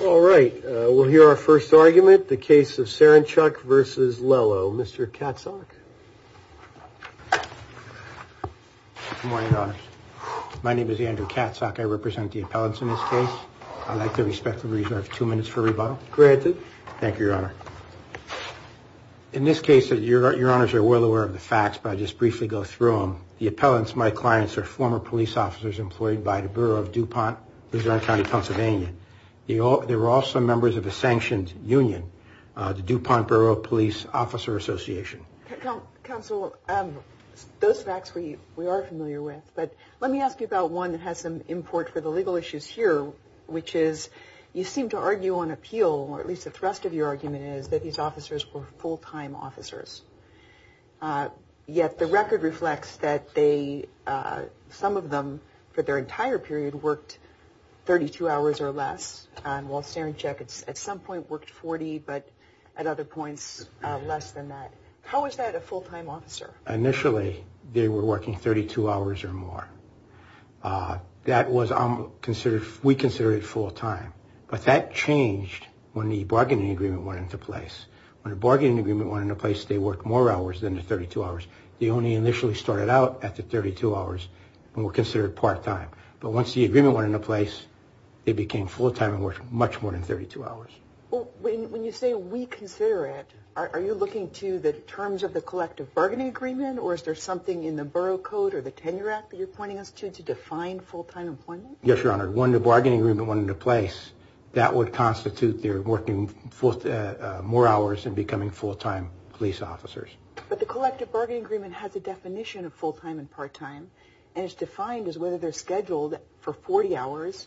All right, we'll hear our first argument, the case of Saranchuk v. Lello. Mr. Katzok. Good morning, Your Honors. My name is Andrew Katzok. I represent the appellants in this case. I'd like to respectfully reserve two minutes for rebuttal. Granted. Thank you, Your Honor. In this case, Your Honors are well aware of the facts, but I'll just briefly go through them. The appellants, my clients, are former police officers employed by the Bureau of DuPont, Luzerne County, Pennsylvania. They were also members of a sanctioned union, the DuPont Bureau of Police Officer Association. Counsel, those facts we are familiar with, but let me ask you about one that has some import for the legal issues here, which is you seem to argue on appeal, or at least the thrust of your argument is that these officers were full-time officers. Yet the record reflects that some of them, for their entire period, worked 32 hours or less, while Saranchuk at some point worked 40, but at other points less than that. How is that a full-time officer? Initially, they were working 32 hours or more. We consider it full-time, but that changed when the bargaining agreement went into place. When the bargaining agreement went into place, they worked more hours than the 32 hours. They only initially started out at the 32 hours and were considered part-time. But once the agreement went into place, they became full-time and worked much more than 32 hours. When you say we consider it, are you looking to the terms of the collective bargaining agreement, or is there something in the Borough Code or the Tenure Act that you're pointing us to to define full-time employment? Yes, Your Honor. When the bargaining agreement went into place, that would constitute their working more hours and becoming full-time police officers. But the collective bargaining agreement has a definition of full-time and part-time, and it's defined as whether they're scheduled for 40 hours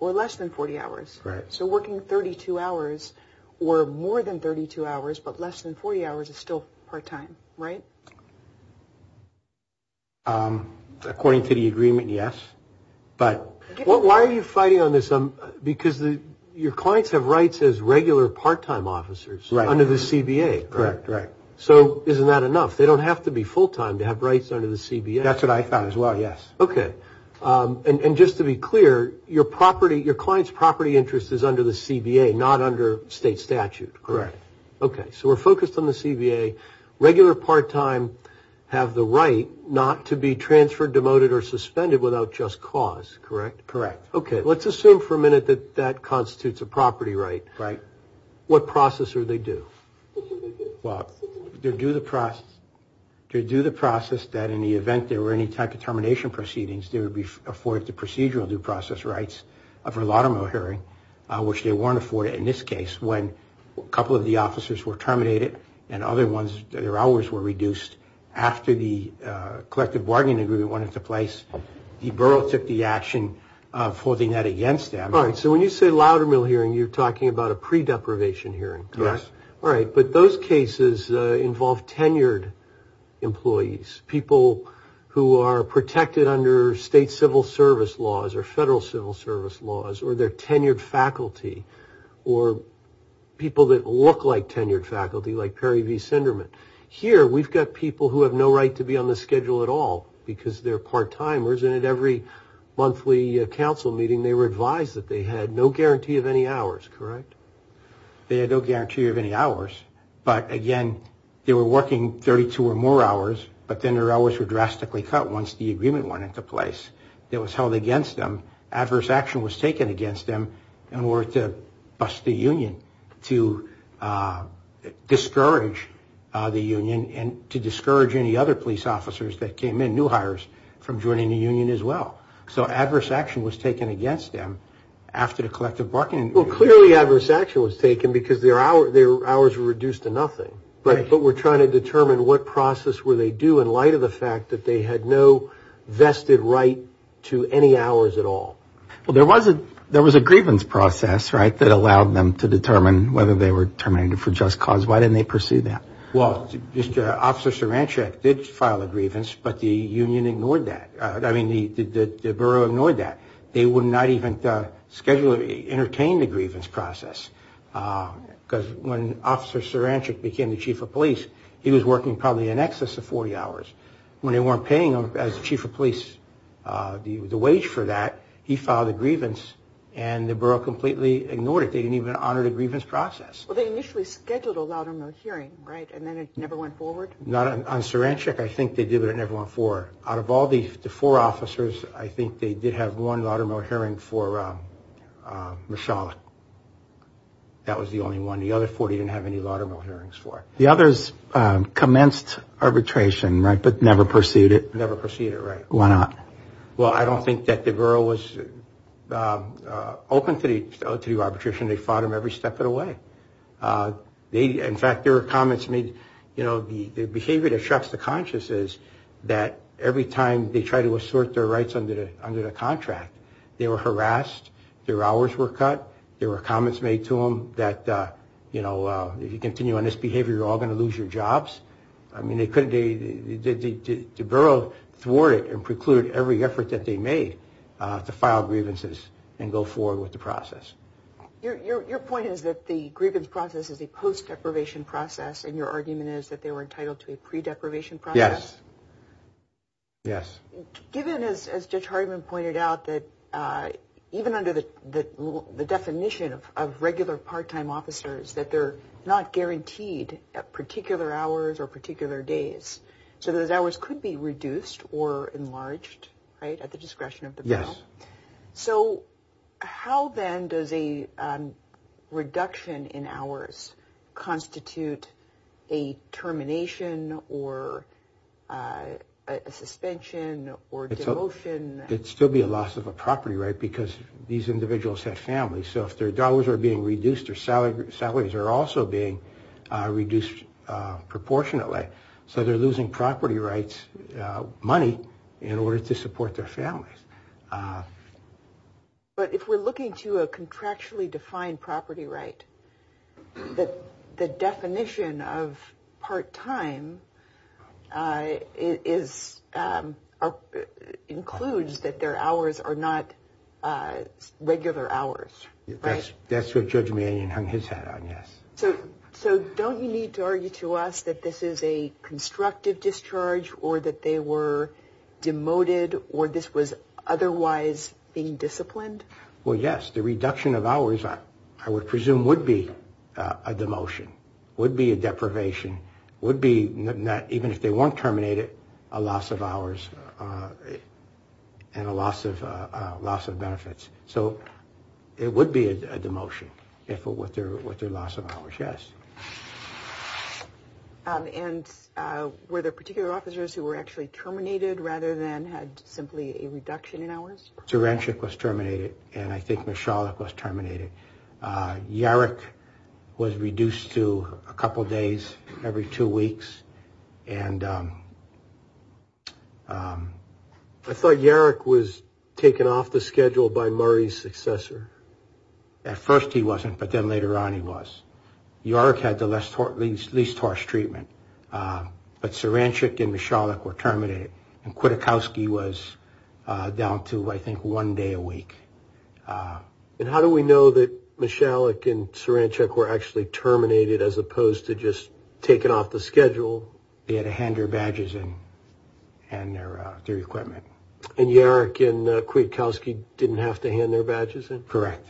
or less than 40 hours. Right. So working 32 hours or more than 32 hours but less than 40 hours is still part-time, right? According to the agreement, yes. Why are you fighting on this? Because your clients have rights as regular part-time officers under the CBA. Correct. So isn't that enough? They don't have to be full-time to have rights under the CBA. That's what I found as well, yes. Okay. And just to be clear, your client's property interest is under the CBA, not under state statute. Correct. Okay. So we're focused on the CBA. Regular part-time have the right not to be transferred, demoted, or suspended without just cause, correct? Correct. Okay. Let's assume for a minute that that constitutes a property right. Right. What process are they due? Well, they're due the process that in the event there were any type of termination proceedings, they would be afforded the procedural due process rights for a laudermill hearing, which they weren't afforded in this case when a couple of the officers were terminated and their hours were reduced after the collective bargaining agreement went into place. The borough took the action of holding that against them. Right. So when you say laudermill hearing, you're talking about a pre-deprivation hearing, correct? Yes. All right. But those cases involve tenured employees, people who are protected under state civil service laws or federal civil service laws or they're tenured faculty or people that look like tenured faculty like Perry V. Sinderman. Here we've got people who have no right to be on the schedule at all because they're part-timers and at every monthly council meeting they were advised that they had no guarantee of any hours, correct? They had no guarantee of any hours, but again, they were working 32 or more hours, but then their hours were drastically cut once the agreement went into place. It was held against them. Adverse action was taken against them in order to bust the union, to discourage the union and to discourage any other police officers that came in, new hires, from joining the union as well. So adverse action was taken against them after the collective bargaining agreement. Well, clearly adverse action was taken because their hours were reduced to nothing. Right. But we're trying to determine what process were they due in light of the fact that they had no vested right to any hours at all. Well, there was a grievance process, right, that allowed them to determine whether they were terminated for just cause. Why didn't they pursue that? Well, Officer Saranchak did file a grievance, but the union ignored that. I mean, the borough ignored that. They would not even schedule or entertain the grievance process because when Officer Saranchak became the chief of police, he was working probably in excess of 40 hours. When they weren't paying him as chief of police the wage for that, he filed a grievance, and the borough completely ignored it. They didn't even honor the grievance process. Well, they initially scheduled a louder-mouth hearing, right, and then it never went forward? Not on Saranchak. I think they did, but it never went forward. Out of all the four officers, I think they did have one louder-mouth hearing for Mishalik. That was the only one. The other 40 didn't have any louder-mouth hearings for. The others commenced arbitration, right, but never pursued it? Never pursued it, right. Why not? Well, I don't think that the borough was open to the arbitration. They fought them every step of the way. In fact, there were comments made, you know, the behavior that shocks the conscience is that every time they try to assert their rights under the contract, they were harassed, their hours were cut. There were comments made to them that, you know, if you continue on this behavior, you're all going to lose your jobs. I mean, the borough thwarted and precluded every effort that they made to file grievances and go forward with the process. Your point is that the grievance process is a post-deprivation process, and your argument is that they were entitled to a pre-deprivation process? Yes. Yes. Given, as Judge Hardiman pointed out, that even under the definition of regular part-time officers, that they're not guaranteed particular hours or particular days, so those hours could be reduced or enlarged, right, at the discretion of the borough. Yes. So how, then, does a reduction in hours constitute a termination or a suspension or demotion? It would still be a loss of a property right because these individuals have families. So if their dollars are being reduced, their salaries are also being reduced proportionately. So they're losing property rights money in order to support their families. But if we're looking to a contractually defined property right, the definition of part-time includes that their hours are not regular hours, right? That's what Judge Mannion hung his hat on, yes. So don't you need to argue to us that this is a constructive discharge or that they were demoted or this was otherwise being disciplined? Well, yes. The reduction of hours, I would presume, would be a demotion, would be a deprivation, would be, even if they weren't terminated, a loss of hours and a loss of benefits. So it would be a demotion with their loss of hours, yes. And were there particular officers who were actually terminated rather than had simply a reduction in hours? Zeranshik was terminated and I think Mishalik was terminated. Yarik was reduced to a couple of days every two weeks. And I thought Yarik was taken off the schedule by Murray's successor. At first he wasn't, but then later on he was. Yarik had the least harsh treatment, but Zeranshik and Mishalik were terminated, and Kwiatkowski was down to, I think, one day a week. And how do we know that Mishalik and Zeranshik were actually terminated as opposed to just taken off the schedule? They had to hand their badges in and their equipment. And Yarik and Kwiatkowski didn't have to hand their badges in? Correct.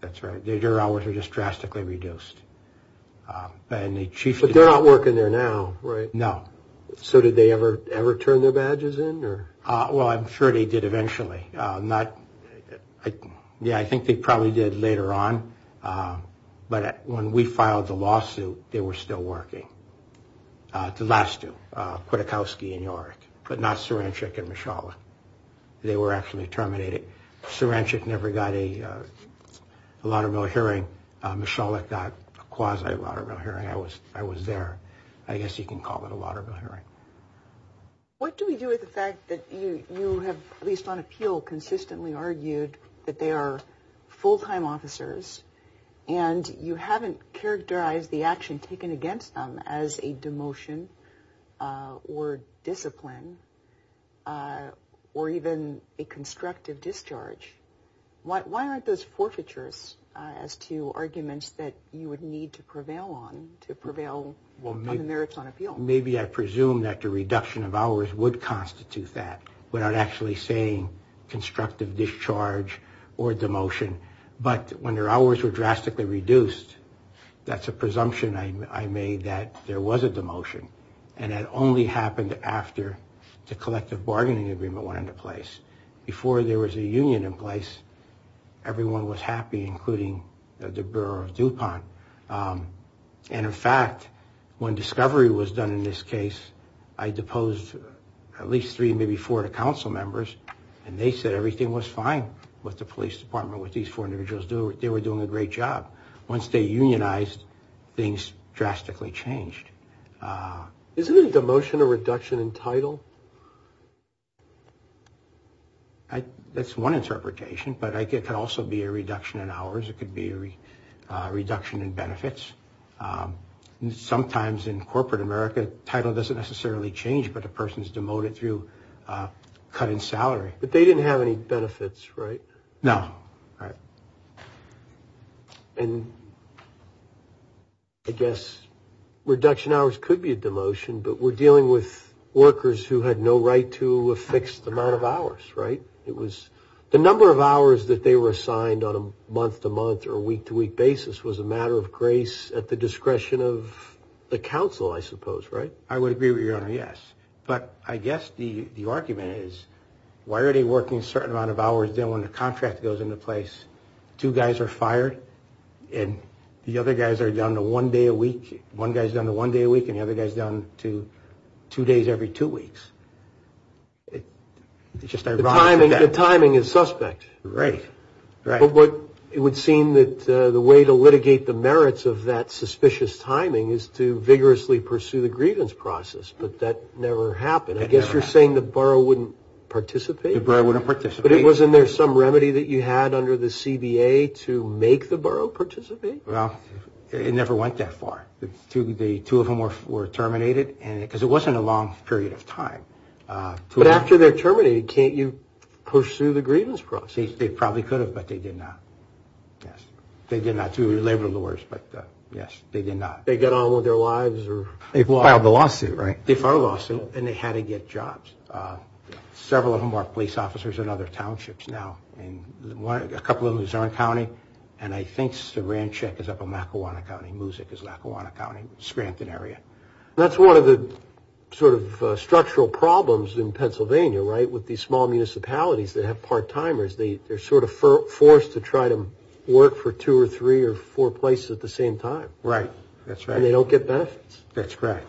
That's right. Their hours were just drastically reduced. But they're not working there now, right? No. So did they ever turn their badges in? Well, I'm sure they did eventually. Yeah, I think they probably did later on. But when we filed the lawsuit, they were still working. The last two, Kwiatkowski and Yarik, but not Zeranshik and Mishalik. They were actually terminated. Zeranshik never got a laudable hearing. Mishalik got a quasi-laudable hearing. I was there. I guess you can call it a laudable hearing. argued that they are full-time officers and you haven't characterized the action taken against them as a demotion or discipline or even a constructive discharge. Why aren't those forfeitures as to arguments that you would need to prevail on to prevail on the merits on appeal? Maybe I presume that the reduction of hours would constitute that without actually saying constructive discharge or demotion. But when their hours were drastically reduced, that's a presumption I made that there was a demotion. And that only happened after the collective bargaining agreement went into place. Before there was a union in place, everyone was happy, including the Bureau of DuPont. And, in fact, when discovery was done in this case, I deposed at least three, maybe four, to council members, and they said everything was fine with the police department, with these four individuals. They were doing a great job. Once they unionized, things drastically changed. Isn't a demotion a reduction in title? That's one interpretation, but it could also be a reduction in hours. It could be a reduction in benefits. Sometimes in corporate America, title doesn't necessarily change, but a person is demoted through a cut in salary. But they didn't have any benefits, right? No. And I guess reduction hours could be a demotion, but we're dealing with workers who had no right to a fixed amount of hours, right? The number of hours that they were assigned on a month-to-month or week-to-week basis was a matter of grace at the discretion of the council, I suppose, right? I would agree with you, Your Honor, yes. But I guess the argument is, why are they working a certain amount of hours then when the contract goes into place, two guys are fired and the other guys are down to one day a week, one guy's down to one day a week and the other guy's down to two days every two weeks? The timing is suspect. Right. But it would seem that the way to litigate the merits of that suspicious timing is to vigorously pursue the grievance process, but that never happened. It never happened. I guess you're saying the borough wouldn't participate? The borough wouldn't participate. But wasn't there some remedy that you had under the CBA to make the borough participate? Well, it never went that far. Two of them were terminated because it wasn't a long period of time. But after they're terminated, can't you pursue the grievance process? They probably could have, but they did not. Yes. They did not. They were labor lawyers, but, yes, they did not. They got on with their lives? They filed the lawsuit, right? They filed a lawsuit, and they had to get jobs. Several of them are police officers in other townships now, a couple in Luzerne County, and I think Saranchick is up in Lackawanna County, Musick is Lackawanna County, Scranton area. That's one of the sort of structural problems in Pennsylvania, right, with these small municipalities that have part-timers. They're sort of forced to try to work for two or three or four places at the same time. Right, that's right. And they don't get benefits. That's right.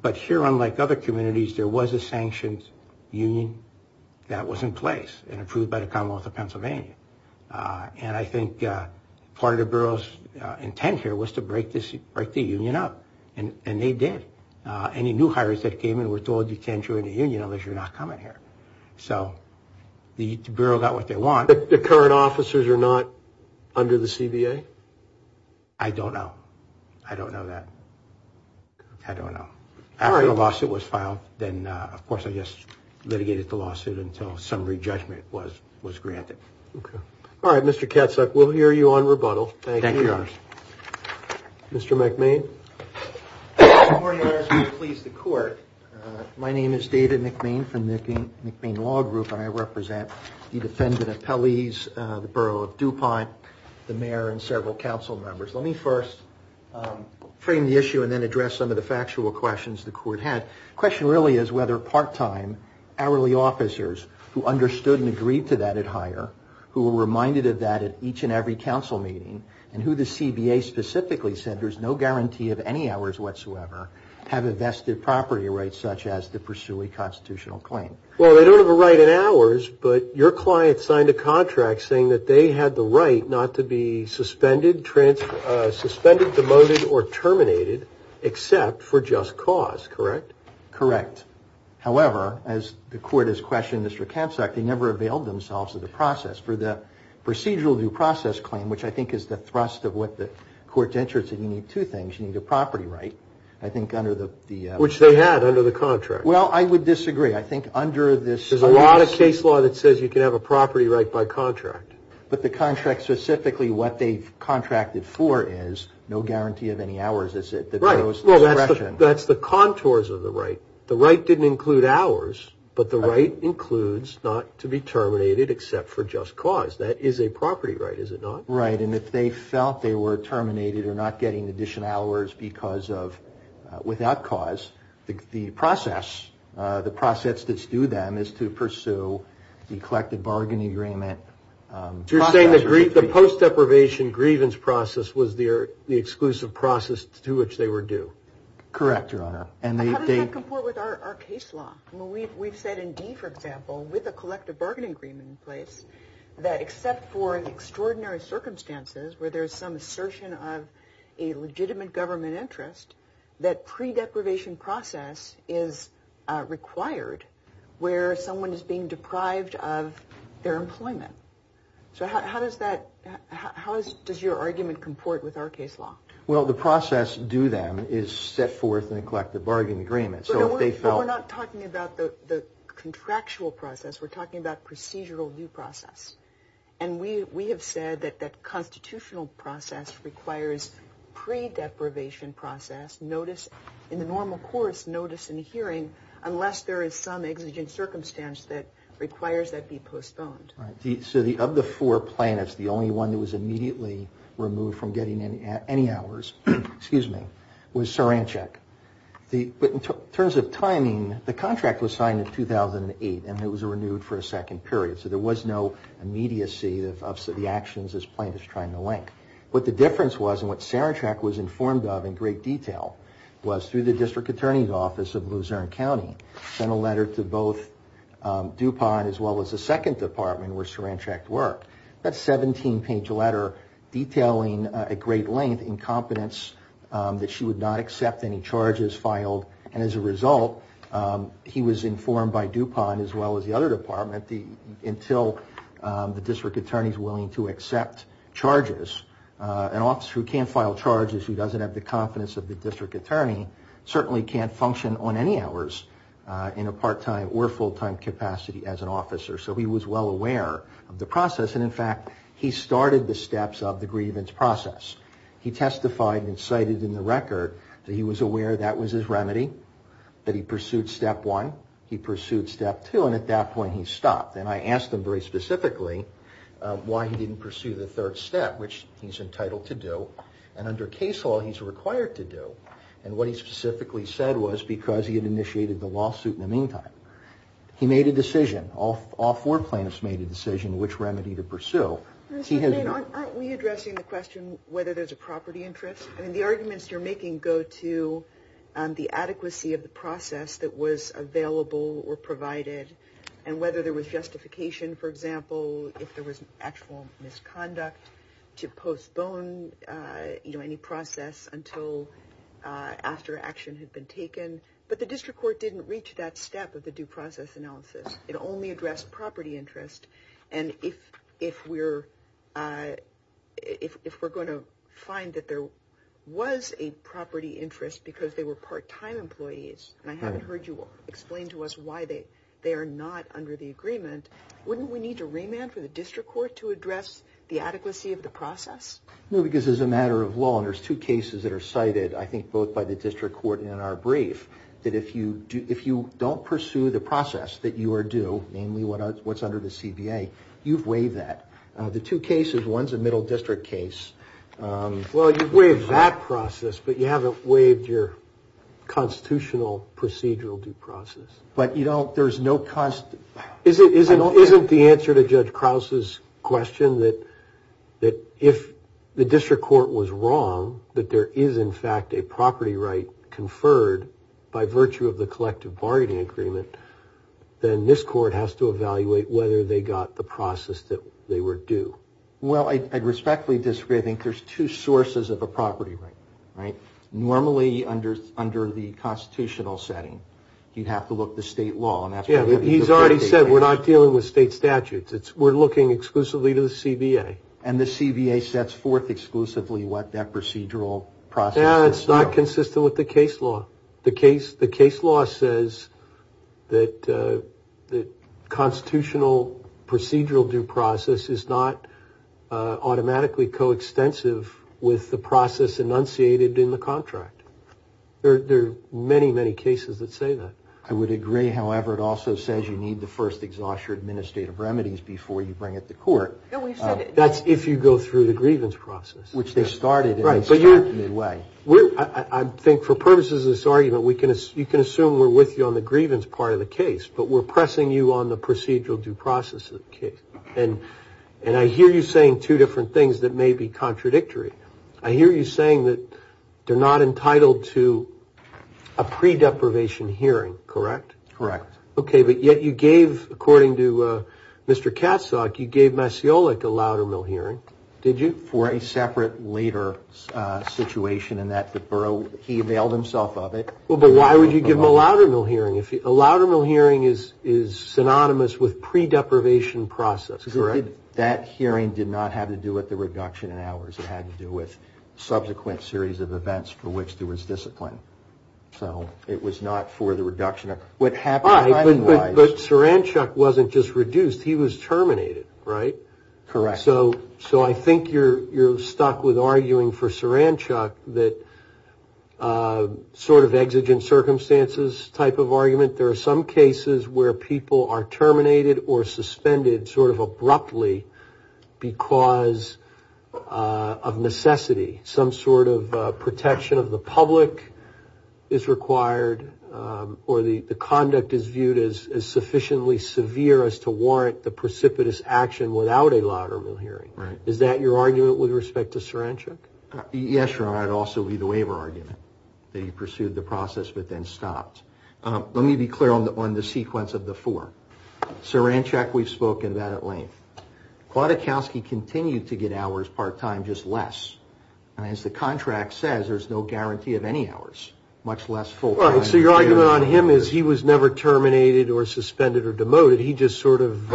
But here, unlike other communities, there was a sanctioned union that was in place and approved by the Commonwealth of Pennsylvania. And I think part of the borough's intent here was to break the union up, and they did. Any new hires that came in were told, you can't join the union unless you're not coming here. So the borough got what they want. The current officers are not under the CBA? I don't know. I don't know that. I don't know. After the lawsuit was filed, then, of course, I just litigated the lawsuit until summary judgment was granted. Okay. All right, Mr. Katzuck, we'll hear you on rebuttal. Thank you. Thank you. Mr. McMahon? Good morning, Your Honors. Will you please the court? My name is David McMahon from the McMahon Law Group, and I represent the defendant appellees, the borough of DuPont, the mayor, and several council members. Let me first frame the issue and then address some of the factual questions the court had. The question really is whether part-time hourly officers who understood and agreed to that at hire, who were reminded of that at each and every council meeting, and who the CBA specifically said there's no guarantee of any hours whatsoever, have a vested property right such as to pursue a constitutional claim. Well, they don't have a right in hours, but your client signed a contract saying that they had the right not to be suspended, demoted, or terminated except for just cause, correct? Correct. However, as the court has questioned Mr. Katzuck, they never availed themselves of the process for the procedural due process claim, which I think is the thrust of what the court's interest in. You need two things. You need a property right, I think, under the- Which they had under the contract. Well, I would disagree. I think under this- There's a lot of case law that says you can have a property right by contract. But the contract specifically, what they've contracted for, is no guarantee of any hours, is it? Right. Well, that's the contours of the right. The right didn't include hours, but the right includes not to be terminated except for just cause. That is a property right, is it not? Right. And if they felt they were terminated or not getting additional hours because of- without cause, the process, the process that's due them, is to pursue the collective bargain agreement process. So you're saying the post-deprivation grievance process was the exclusive process to which they were due? Correct, Your Honor. How does that comport with our case law? We've said in D, for example, with a collective bargain agreement in place, that except for extraordinary circumstances where there's some assertion of a legitimate government interest, that pre-deprivation process is required where someone is being deprived of their employment. So how does that- how does your argument comport with our case law? Well, the process due them is set forth in a collective bargain agreement. So if they felt- we're talking about procedural due process. And we have said that that constitutional process requires pre-deprivation process, notice- in the normal course, notice and hearing, unless there is some exigent circumstance that requires that be postponed. So of the four plaintiffs, the only one that was immediately removed from getting any hours- excuse me- was Saranchek. But in terms of timing, the contract was signed in 2008, and it was renewed for a second period. So there was no immediacy of the actions this plaintiff is trying to link. What the difference was, and what Saranchek was informed of in great detail, was through the district attorney's office of Luzerne County, sent a letter to both DuPont as well as the second department where Saranchek worked. That 17-page letter detailing at great length incompetence that she would not accept any charges filed. And as a result, he was informed by DuPont as well as the other department until the district attorney is willing to accept charges. An officer who can't file charges, who doesn't have the confidence of the district attorney, certainly can't function on any hours in a part-time or full-time capacity as an officer. So he was well aware of the process. And in fact, he started the steps of the grievance process. He testified and cited in the record that he was aware that was his remedy, that he pursued step one, he pursued step two, and at that point he stopped. And I asked him very specifically why he didn't pursue the third step, which he's entitled to do, and under case law he's required to do. And what he specifically said was because he had initiated the lawsuit in the meantime. He made a decision. All four plaintiffs made a decision which remedy to pursue. Aren't we addressing the question whether there's a property interest? The arguments you're making go to the adequacy of the process that was available or provided, and whether there was justification, for example, if there was actual misconduct, to postpone any process until after action had been taken. But the district court didn't reach that step of the due process analysis. It only addressed property interest. And if we're going to find that there was a property interest because they were part-time employees, and I haven't heard you explain to us why they are not under the agreement, wouldn't we need to remand for the district court to address the adequacy of the process? No, because as a matter of law, and there's two cases that are cited, I think both by the district court and in our brief, that if you don't pursue the process that you are due, namely what's under the CBA, you've waived that. The two cases, one's a middle district case. Well, you've waived that process, but you haven't waived your constitutional procedural due process. But there's no... Isn't the answer to Judge Krause's question that if the district court was wrong, that there is, in fact, a property right conferred by virtue of the collective bargaining agreement, then this court has to evaluate whether they got the process that they were due. Well, I respectfully disagree. I think there's two sources of a property right, right? Normally, under the constitutional setting, you'd have to look at the state law. Yeah, he's already said we're not dealing with state statutes. We're looking exclusively to the CBA. And the CBA sets forth exclusively what that procedural process... No, it's not consistent with the case law. The case law says that constitutional procedural due process is not automatically coextensive with the process enunciated in the contract. There are many, many cases that say that. I would agree, however, it also says you need to first exhaust your administrative remedies before you bring it to court. That's if you go through the grievance process. Which they started in a certain way. I think for purposes of this argument, you can assume we're with you on the grievance part of the case, but we're pressing you on the procedural due process of the case. And I hear you saying two different things that may be contradictory. I hear you saying that they're not entitled to a pre-deprivation hearing, correct? Correct. Okay, but yet you gave, according to Mr. Katzok, you gave Masiolik a Loudermill hearing, did you? For a separate later situation in that the borough, he availed himself of it. Well, but why would you give him a Loudermill hearing? A Loudermill hearing is synonymous with pre-deprivation process, correct? That hearing did not have to do with the reduction in hours. It had to do with subsequent series of events for which there was discipline. So it was not for the reduction. All right, but Saranchuk wasn't just reduced, he was terminated, right? Correct. So I think you're stuck with arguing for Saranchuk that sort of exigent circumstances type of argument. There are some cases where people are terminated or suspended sort of abruptly because of necessity. Some sort of protection of the public is required or the conduct is viewed as sufficiently severe as to warrant the precipitous action without a Loudermill hearing. Right. Is that your argument with respect to Saranchuk? Yes, Your Honor. It would also be the waiver argument, that he pursued the process but then stopped. Let me be clear on the sequence of the four. Saranchuk, we've spoken about at length. Kwiatkowski continued to get hours part-time, just less. And as the contract says, there's no guarantee of any hours, much less full-time. So your argument on him is he was never terminated or suspended or demoted, but he just sort of,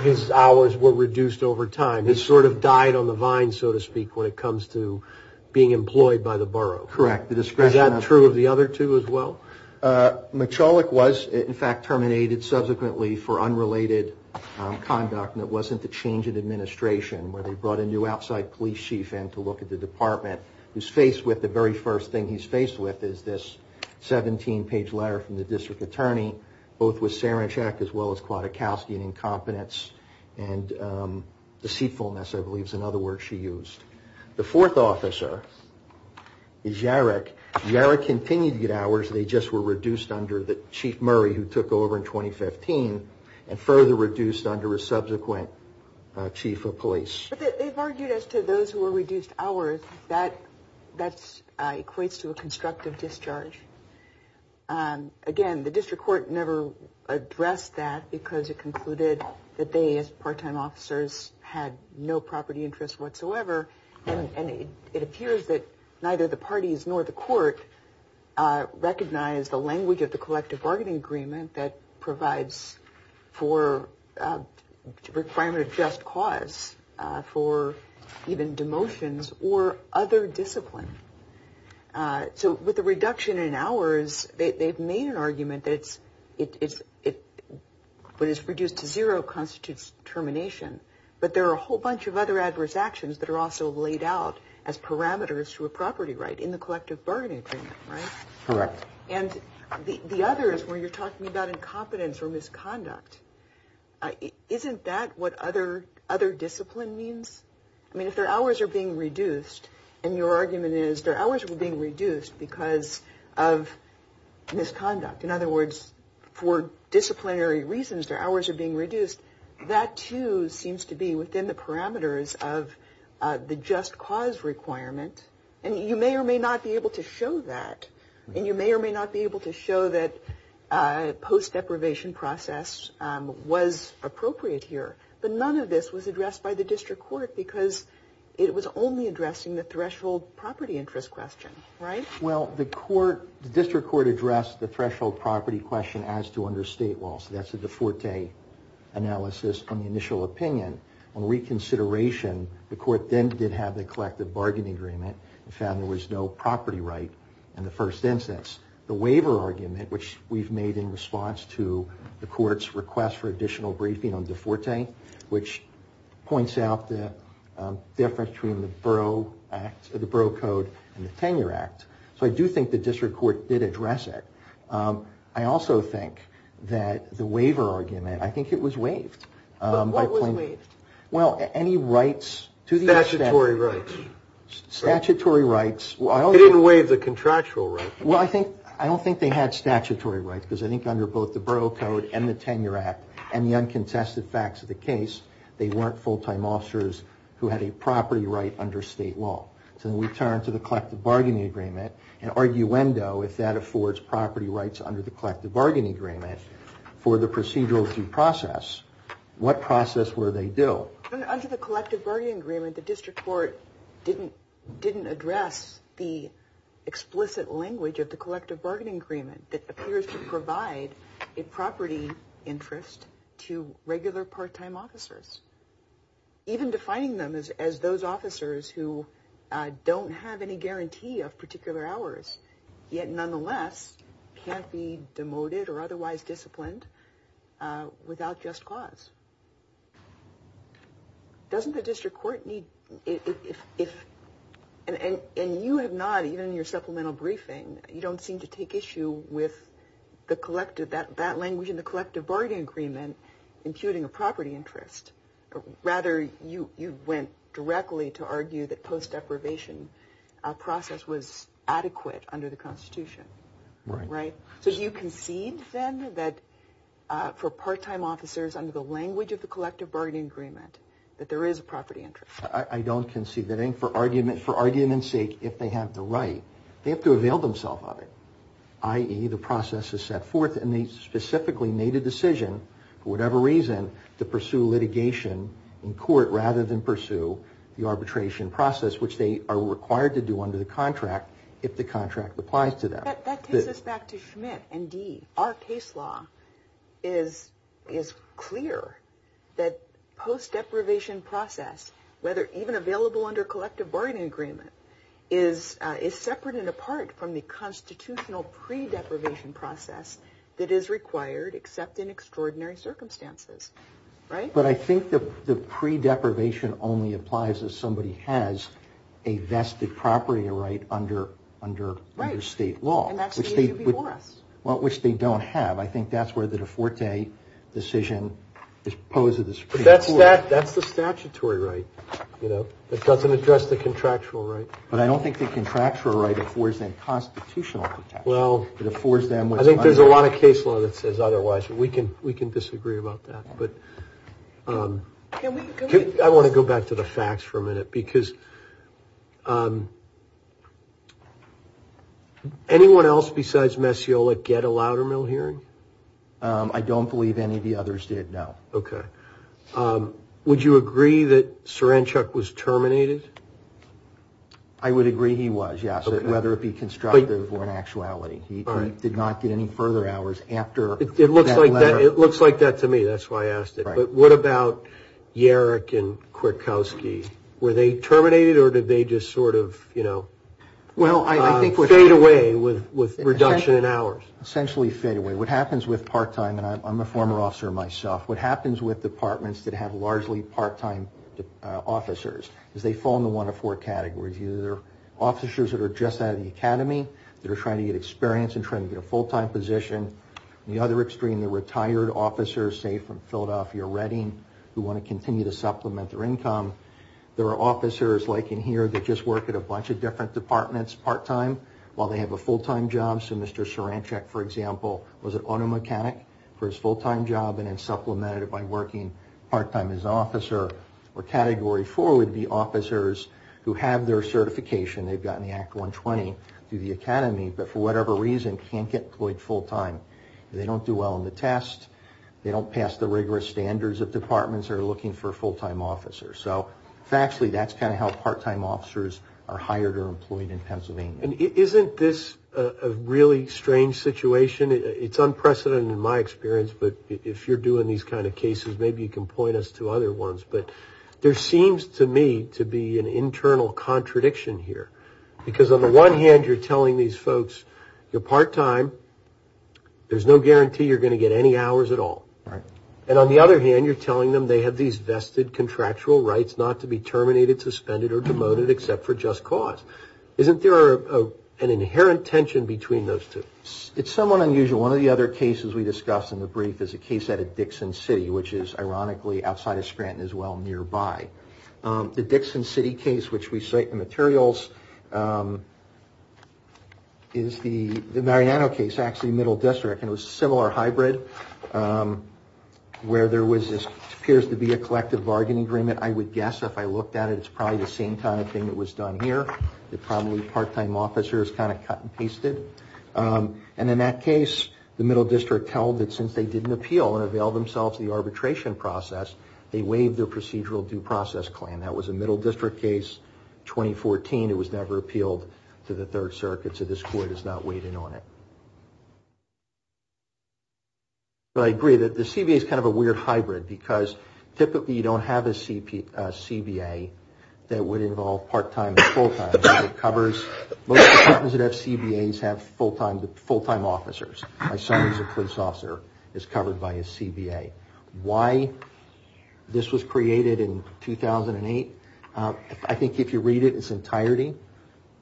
his hours were reduced over time. He sort of died on the vine, so to speak, when it comes to being employed by the borough. Correct. Is that true of the other two as well? Michalik was, in fact, terminated subsequently for unrelated conduct, and it wasn't the change in administration where they brought a new outside police chief in to look at the department. The very first thing he's faced with is this 17-page letter from the district attorney, both with Saranchuk as well as Kwiatkowski and incompetence and deceitfulness, I believe is another word she used. The fourth officer is Yarek. Yarek continued to get hours. They just were reduced under the chief Murray, who took over in 2015, and further reduced under a subsequent chief of police. But they've argued as to those who were reduced hours, that equates to a constructive discharge. Again, the district court never addressed that because it concluded that they, as part-time officers, had no property interests whatsoever, and it appears that neither the parties nor the court recognize the language of the collective bargaining agreement that provides for a requirement of just cause for even demotions or other discipline. So with the reduction in hours, they've made an argument that what is reduced to zero constitutes termination, but there are a whole bunch of other adverse actions that are also laid out as parameters to a property right in the collective bargaining agreement, right? Correct. And the others where you're talking about incompetence or misconduct, isn't that what other discipline means? I mean, if their hours are being reduced, and your argument is their hours are being reduced because of misconduct, in other words, for disciplinary reasons, their hours are being reduced, that too seems to be within the parameters of the just cause requirement, and you may or may not be able to show that, and you may or may not be able to show that post-deprivation process was appropriate here. But none of this was addressed by the district court because it was only addressing the threshold property interest question, right? Well, the district court addressed the threshold property question as to under state law, so that's a De Forte analysis on the initial opinion. On reconsideration, the court then did have the collective bargaining agreement and found there was no property right in the first instance. The waiver argument, which we've made in response to the court's request for additional briefing on De Forte, which points out the difference between the Borough Act, the Borough Code and the Tenure Act. So I do think the district court did address it. I also think that the waiver argument, I think it was waived. But what was waived? Well, any rights to the extent- Statutory rights. Statutory rights. It didn't waive the contractual rights. Well, I don't think they had statutory rights because I think under both the Borough Code and the Tenure Act and the uncontested facts of the case, they weren't full-time officers who had a property right under state law. So then we turn to the collective bargaining agreement and arguendo if that affords property rights under the collective bargaining agreement for the procedural due process, what process were they due? Under the collective bargaining agreement, the district court didn't address the explicit language of the collective bargaining agreement that appears to provide a property interest to regular part-time officers, even defining them as those officers who don't have any guarantee of particular hours, yet nonetheless can't be demoted or otherwise disciplined without just cause. Doesn't the district court need- And you have not, even in your supplemental briefing, you don't seem to take issue with that language in the collective bargaining agreement imputing a property interest. Rather, you went directly to argue that post-deprivation process was adequate under the Constitution. Right. So do you concede, then, that for part-time officers under the language of the collective bargaining agreement, that there is a property interest? I don't concede anything. For argument's sake, if they have the right, they have to avail themselves of it, i.e., the process is set forth and they specifically made a decision, for whatever reason, to pursue litigation in court rather than pursue the arbitration process, which they are required to do under the contract if the contract applies to them. That takes us back to Schmidt and Dee. Our case law is clear that post-deprivation process, whether even available under collective bargaining agreement, is separate and apart from the constitutional pre-deprivation process that is required except in extraordinary circumstances. But I think the pre-deprivation only applies if somebody has a vested property right under state law. And that's the issue before us. Well, which they don't have. I think that's where the De Forte decision is posed to the Supreme Court. But that's the statutory right, you know, that doesn't address the contractual right. But I don't think the contractual right affords them constitutional protection. Well, I think there's a lot of case law that says otherwise. We can disagree about that. But I want to go back to the facts for a minute because anyone else besides Messiola get a Loudermill hearing? I don't believe any of the others did, no. Okay. Would you agree that Cerenchuk was terminated? I would agree he was, yes, whether it be constructive or in actuality. He did not get any further hours after that letter. It looks like that to me. That's why I asked it. But what about Yerrick and Kwiatkowski? Were they terminated or did they just sort of, you know, fade away with reduction in hours? Essentially fade away. What happens with part-time, and I'm a former officer myself, what happens with departments that have largely part-time officers is they fall into one of four categories. Either they're officers that are just out of the academy, that are trying to get experience and trying to get a full-time position. On the other extreme, they're retired officers, say from Philadelphia or Reading, who want to continue to supplement their income. There are officers, like in here, that just work at a bunch of different departments part-time while they have a full-time job. So Mr. Cerenchuk, for example, was an auto mechanic for his full-time job and then supplemented it by working part-time as an officer. Or category four would be officers who have their certification, they've gotten the Act 120 through the academy, but for whatever reason can't get employed full-time. They don't do well on the test, they don't pass the rigorous standards of departments that are looking for a full-time officer. So factually, that's kind of how part-time officers are hired or employed in Pennsylvania. Isn't this a really strange situation? It's unprecedented in my experience, but if you're doing these kind of cases, maybe you can point us to other ones. But there seems to me to be an internal contradiction here, because on the one hand, you're telling these folks, you're part-time, there's no guarantee you're going to get any hours at all. And on the other hand, you're telling them they have these vested contractual rights not to be terminated, suspended, or demoted except for just cause. Isn't there an inherent tension between those two? It's somewhat unusual. One of the other cases we discussed in the brief is a case out of Dixon City, which is ironically outside of Scranton as well, nearby. The Dixon City case, which we cite in the materials, is the Mariano case, actually middle district, and it was a similar hybrid where there appears to be a collective bargaining agreement. I would guess if I looked at it, it's probably the same kind of thing that was done here, that probably part-time officers kind of cut and pasted. And in that case, the middle district held that since they didn't appeal and avail themselves of the arbitration process, they waived their procedural due process claim. That was a middle district case, 2014. It was never appealed to the Third Circuit, so this Court is not weighting on it. But I agree that the CBA is kind of a weird hybrid because typically you don't have a CBA that would involve part-time and full-time. Most departments that have CBAs have full-time officers. My son is a police officer. He's covered by his CBA. Why this was created in 2008, I think if you read it in its entirety,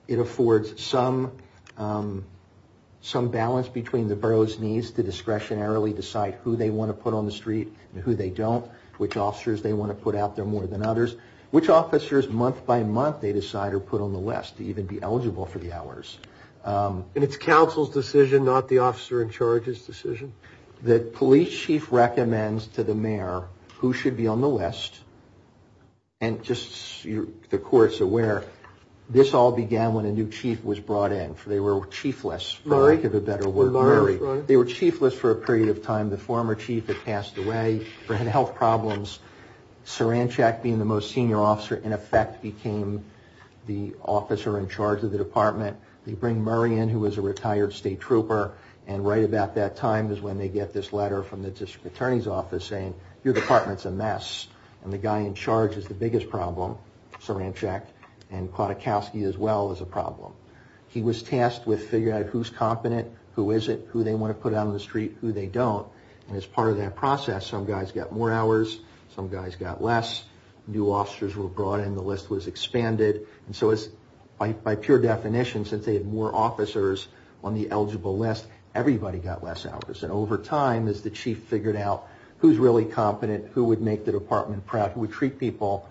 it affords some balance between the borough's needs to discretionarily decide who they want to put on the street and who they don't, which officers they want to put out there more than others, which officers month by month they decide are put on the list to even be eligible for the hours. And it's counsel's decision, not the officer in charge's decision? The police chief recommends to the mayor who should be on the list, and just the Court's aware, this all began when a new chief was brought in. They were chiefless, for lack of a better word. Murray. They were chiefless for a period of time. The former chief had passed away, had health problems. Saranchak being the most senior officer, in effect became the officer in charge of the department. They bring Murray in, who was a retired state trooper, and right about that time is when they get this letter from the district attorney's office saying, your department's a mess, and the guy in charge is the biggest problem, Saranchak, and Klotakowski as well is a problem. He was tasked with figuring out who's competent, who isn't, who they want to put out on the street, who they don't, and as part of that process, some guys got more hours, some guys got less. New officers were brought in, the list was expanded, and so by pure definition, since they had more officers on the eligible list, everybody got less hours, and over time, as the chief figured out who's really competent, who would make the department proud, who would treat people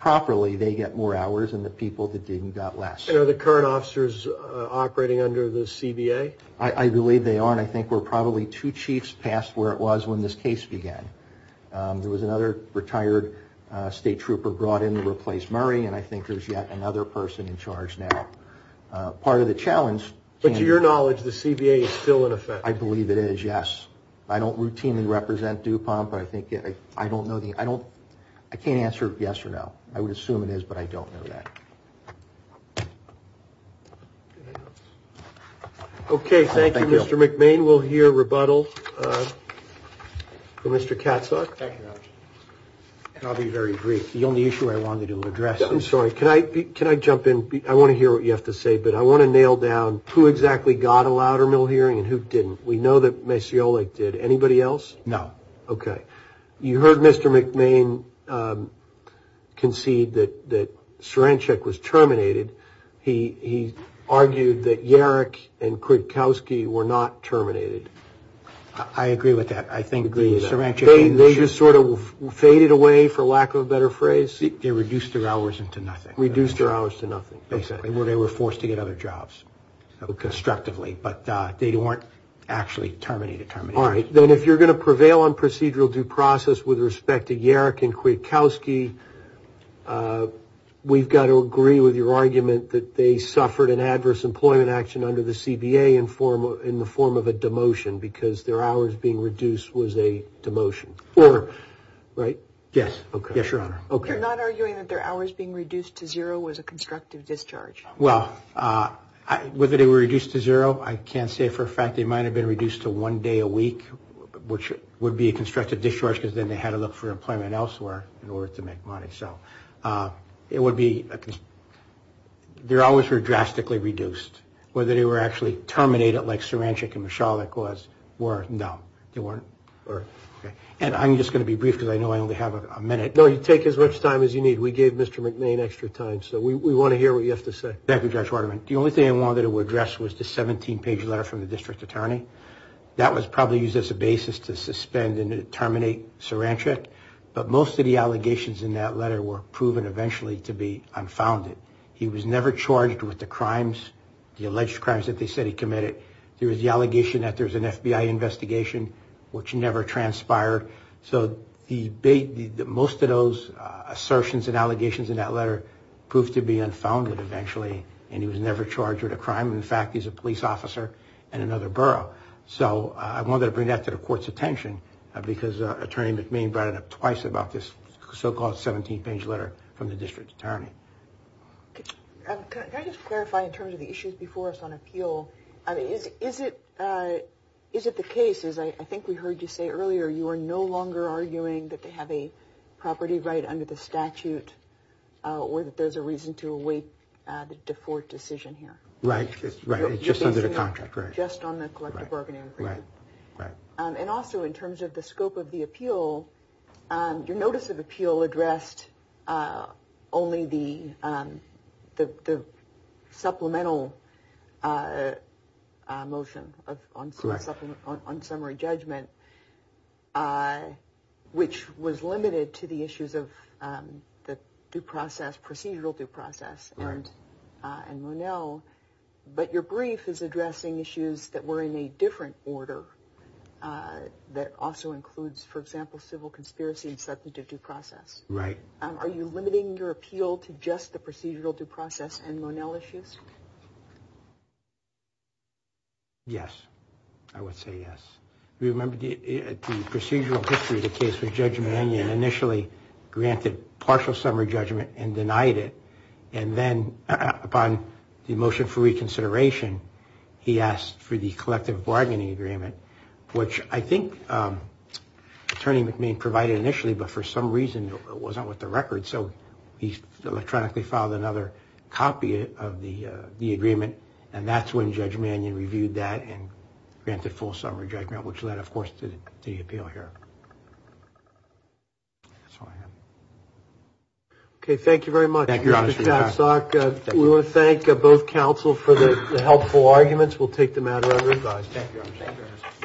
properly, they get more hours, and the people that didn't got less. And are the current officers operating under the CBA? I believe they are, and I think we're probably two chiefs past where it was when this case began. There was another retired state trooper brought in to replace Murray, and I think there's yet another person in charge now. Part of the challenge... But to your knowledge, the CBA is still in effect? I believe it is, yes. I don't routinely represent DuPont, but I think... I don't know the... I can't answer yes or no. I would assume it is, but I don't know that. Okay, thank you, Mr. McMain. We'll hear rebuttal from Mr. Katzok. Thank you. And I'll be very brief. The only issue I wanted to address... I'm sorry. Can I jump in? I want to hear what you have to say, but I want to nail down who exactly got a louder mill hearing and who didn't. We know that Maciolik did. Anybody else? No. Okay. You heard Mr. McMain concede that Cerenchik was terminated. He argued that Yarek and Kwiatkowski were not terminated. I agree with that. I think the Cerenchik... They just sort of faded away, for lack of a better phrase? They reduced their hours into nothing. Reduced their hours to nothing. Exactly. They were forced to get other jobs constructively, but they weren't actually terminated. All right. Then if you're going to prevail on procedural due process with respect to Yarek and Kwiatkowski, we've got to agree with your argument that they suffered an adverse employment action under the CBA in the form of a demotion because their hours being reduced was a demotion. Right? Yes. Yes, Your Honor. Okay. You're not arguing that their hours being reduced to zero was a constructive discharge? Well, whether they were reduced to zero, I can't say for a fact they might have been reduced to one day a week, which would be a constructive discharge because then they had to look for employment elsewhere in order to make money. So it would be... Their hours were drastically reduced. Whether they were actually terminated like Cerenchik and Michalik were, no, they weren't. And I'm just going to be brief because I know I only have a minute. No, you take as much time as you need. We gave Mr. McMahon extra time, so we want to hear what you have to say. Thank you, Judge Waterman. The only thing I wanted to address was the 17-page letter from the district attorney. That was probably used as a basis to suspend and terminate Cerenchik, but most of the allegations in that letter were proven eventually to be unfounded. He was never charged with the crimes, the alleged crimes that they said he committed. There was the allegation that there was an FBI investigation, which never transpired. So most of those assertions and allegations in that letter proved to be unfounded eventually, and he was never charged with a crime. In fact, he's a police officer in another borough. So I wanted to bring that to the Court's attention because Attorney McMahon brought it up twice about this so-called 17-page letter from the district attorney. Can I just clarify in terms of the issues before us on appeal? Is it the case, as I think we heard you say earlier, you are no longer arguing that they have a property right under the statute or that there's a reason to await the default decision here? Right, it's just under the contract. Just on the collective bargaining agreement. And also in terms of the scope of the appeal, your notice of appeal addressed only the supplemental motion on summary judgment, which was limited to the issues of procedural due process and Monell. But your brief is addressing issues that were in a different order that also includes, for example, civil conspiracy and substantive due process. Are you limiting your appeal to just the procedural due process and Monell issues? Yes, I would say yes. Remember the procedural history of the case with Judge Mannion initially granted partial summary judgment and denied it. And then upon the motion for reconsideration, he asked for the collective bargaining agreement, which I think Attorney McMahon provided initially, but for some reason it wasn't with the record. So he electronically filed another copy of the agreement, and that's when Judge Mannion reviewed that and granted full summary judgment, which led, of course, to the appeal here. That's all I have. Okay, thank you very much. Thank you, Your Honor. We want to thank both counsel for the helpful arguments. We'll take the matter under review. Thank you, Your Honor.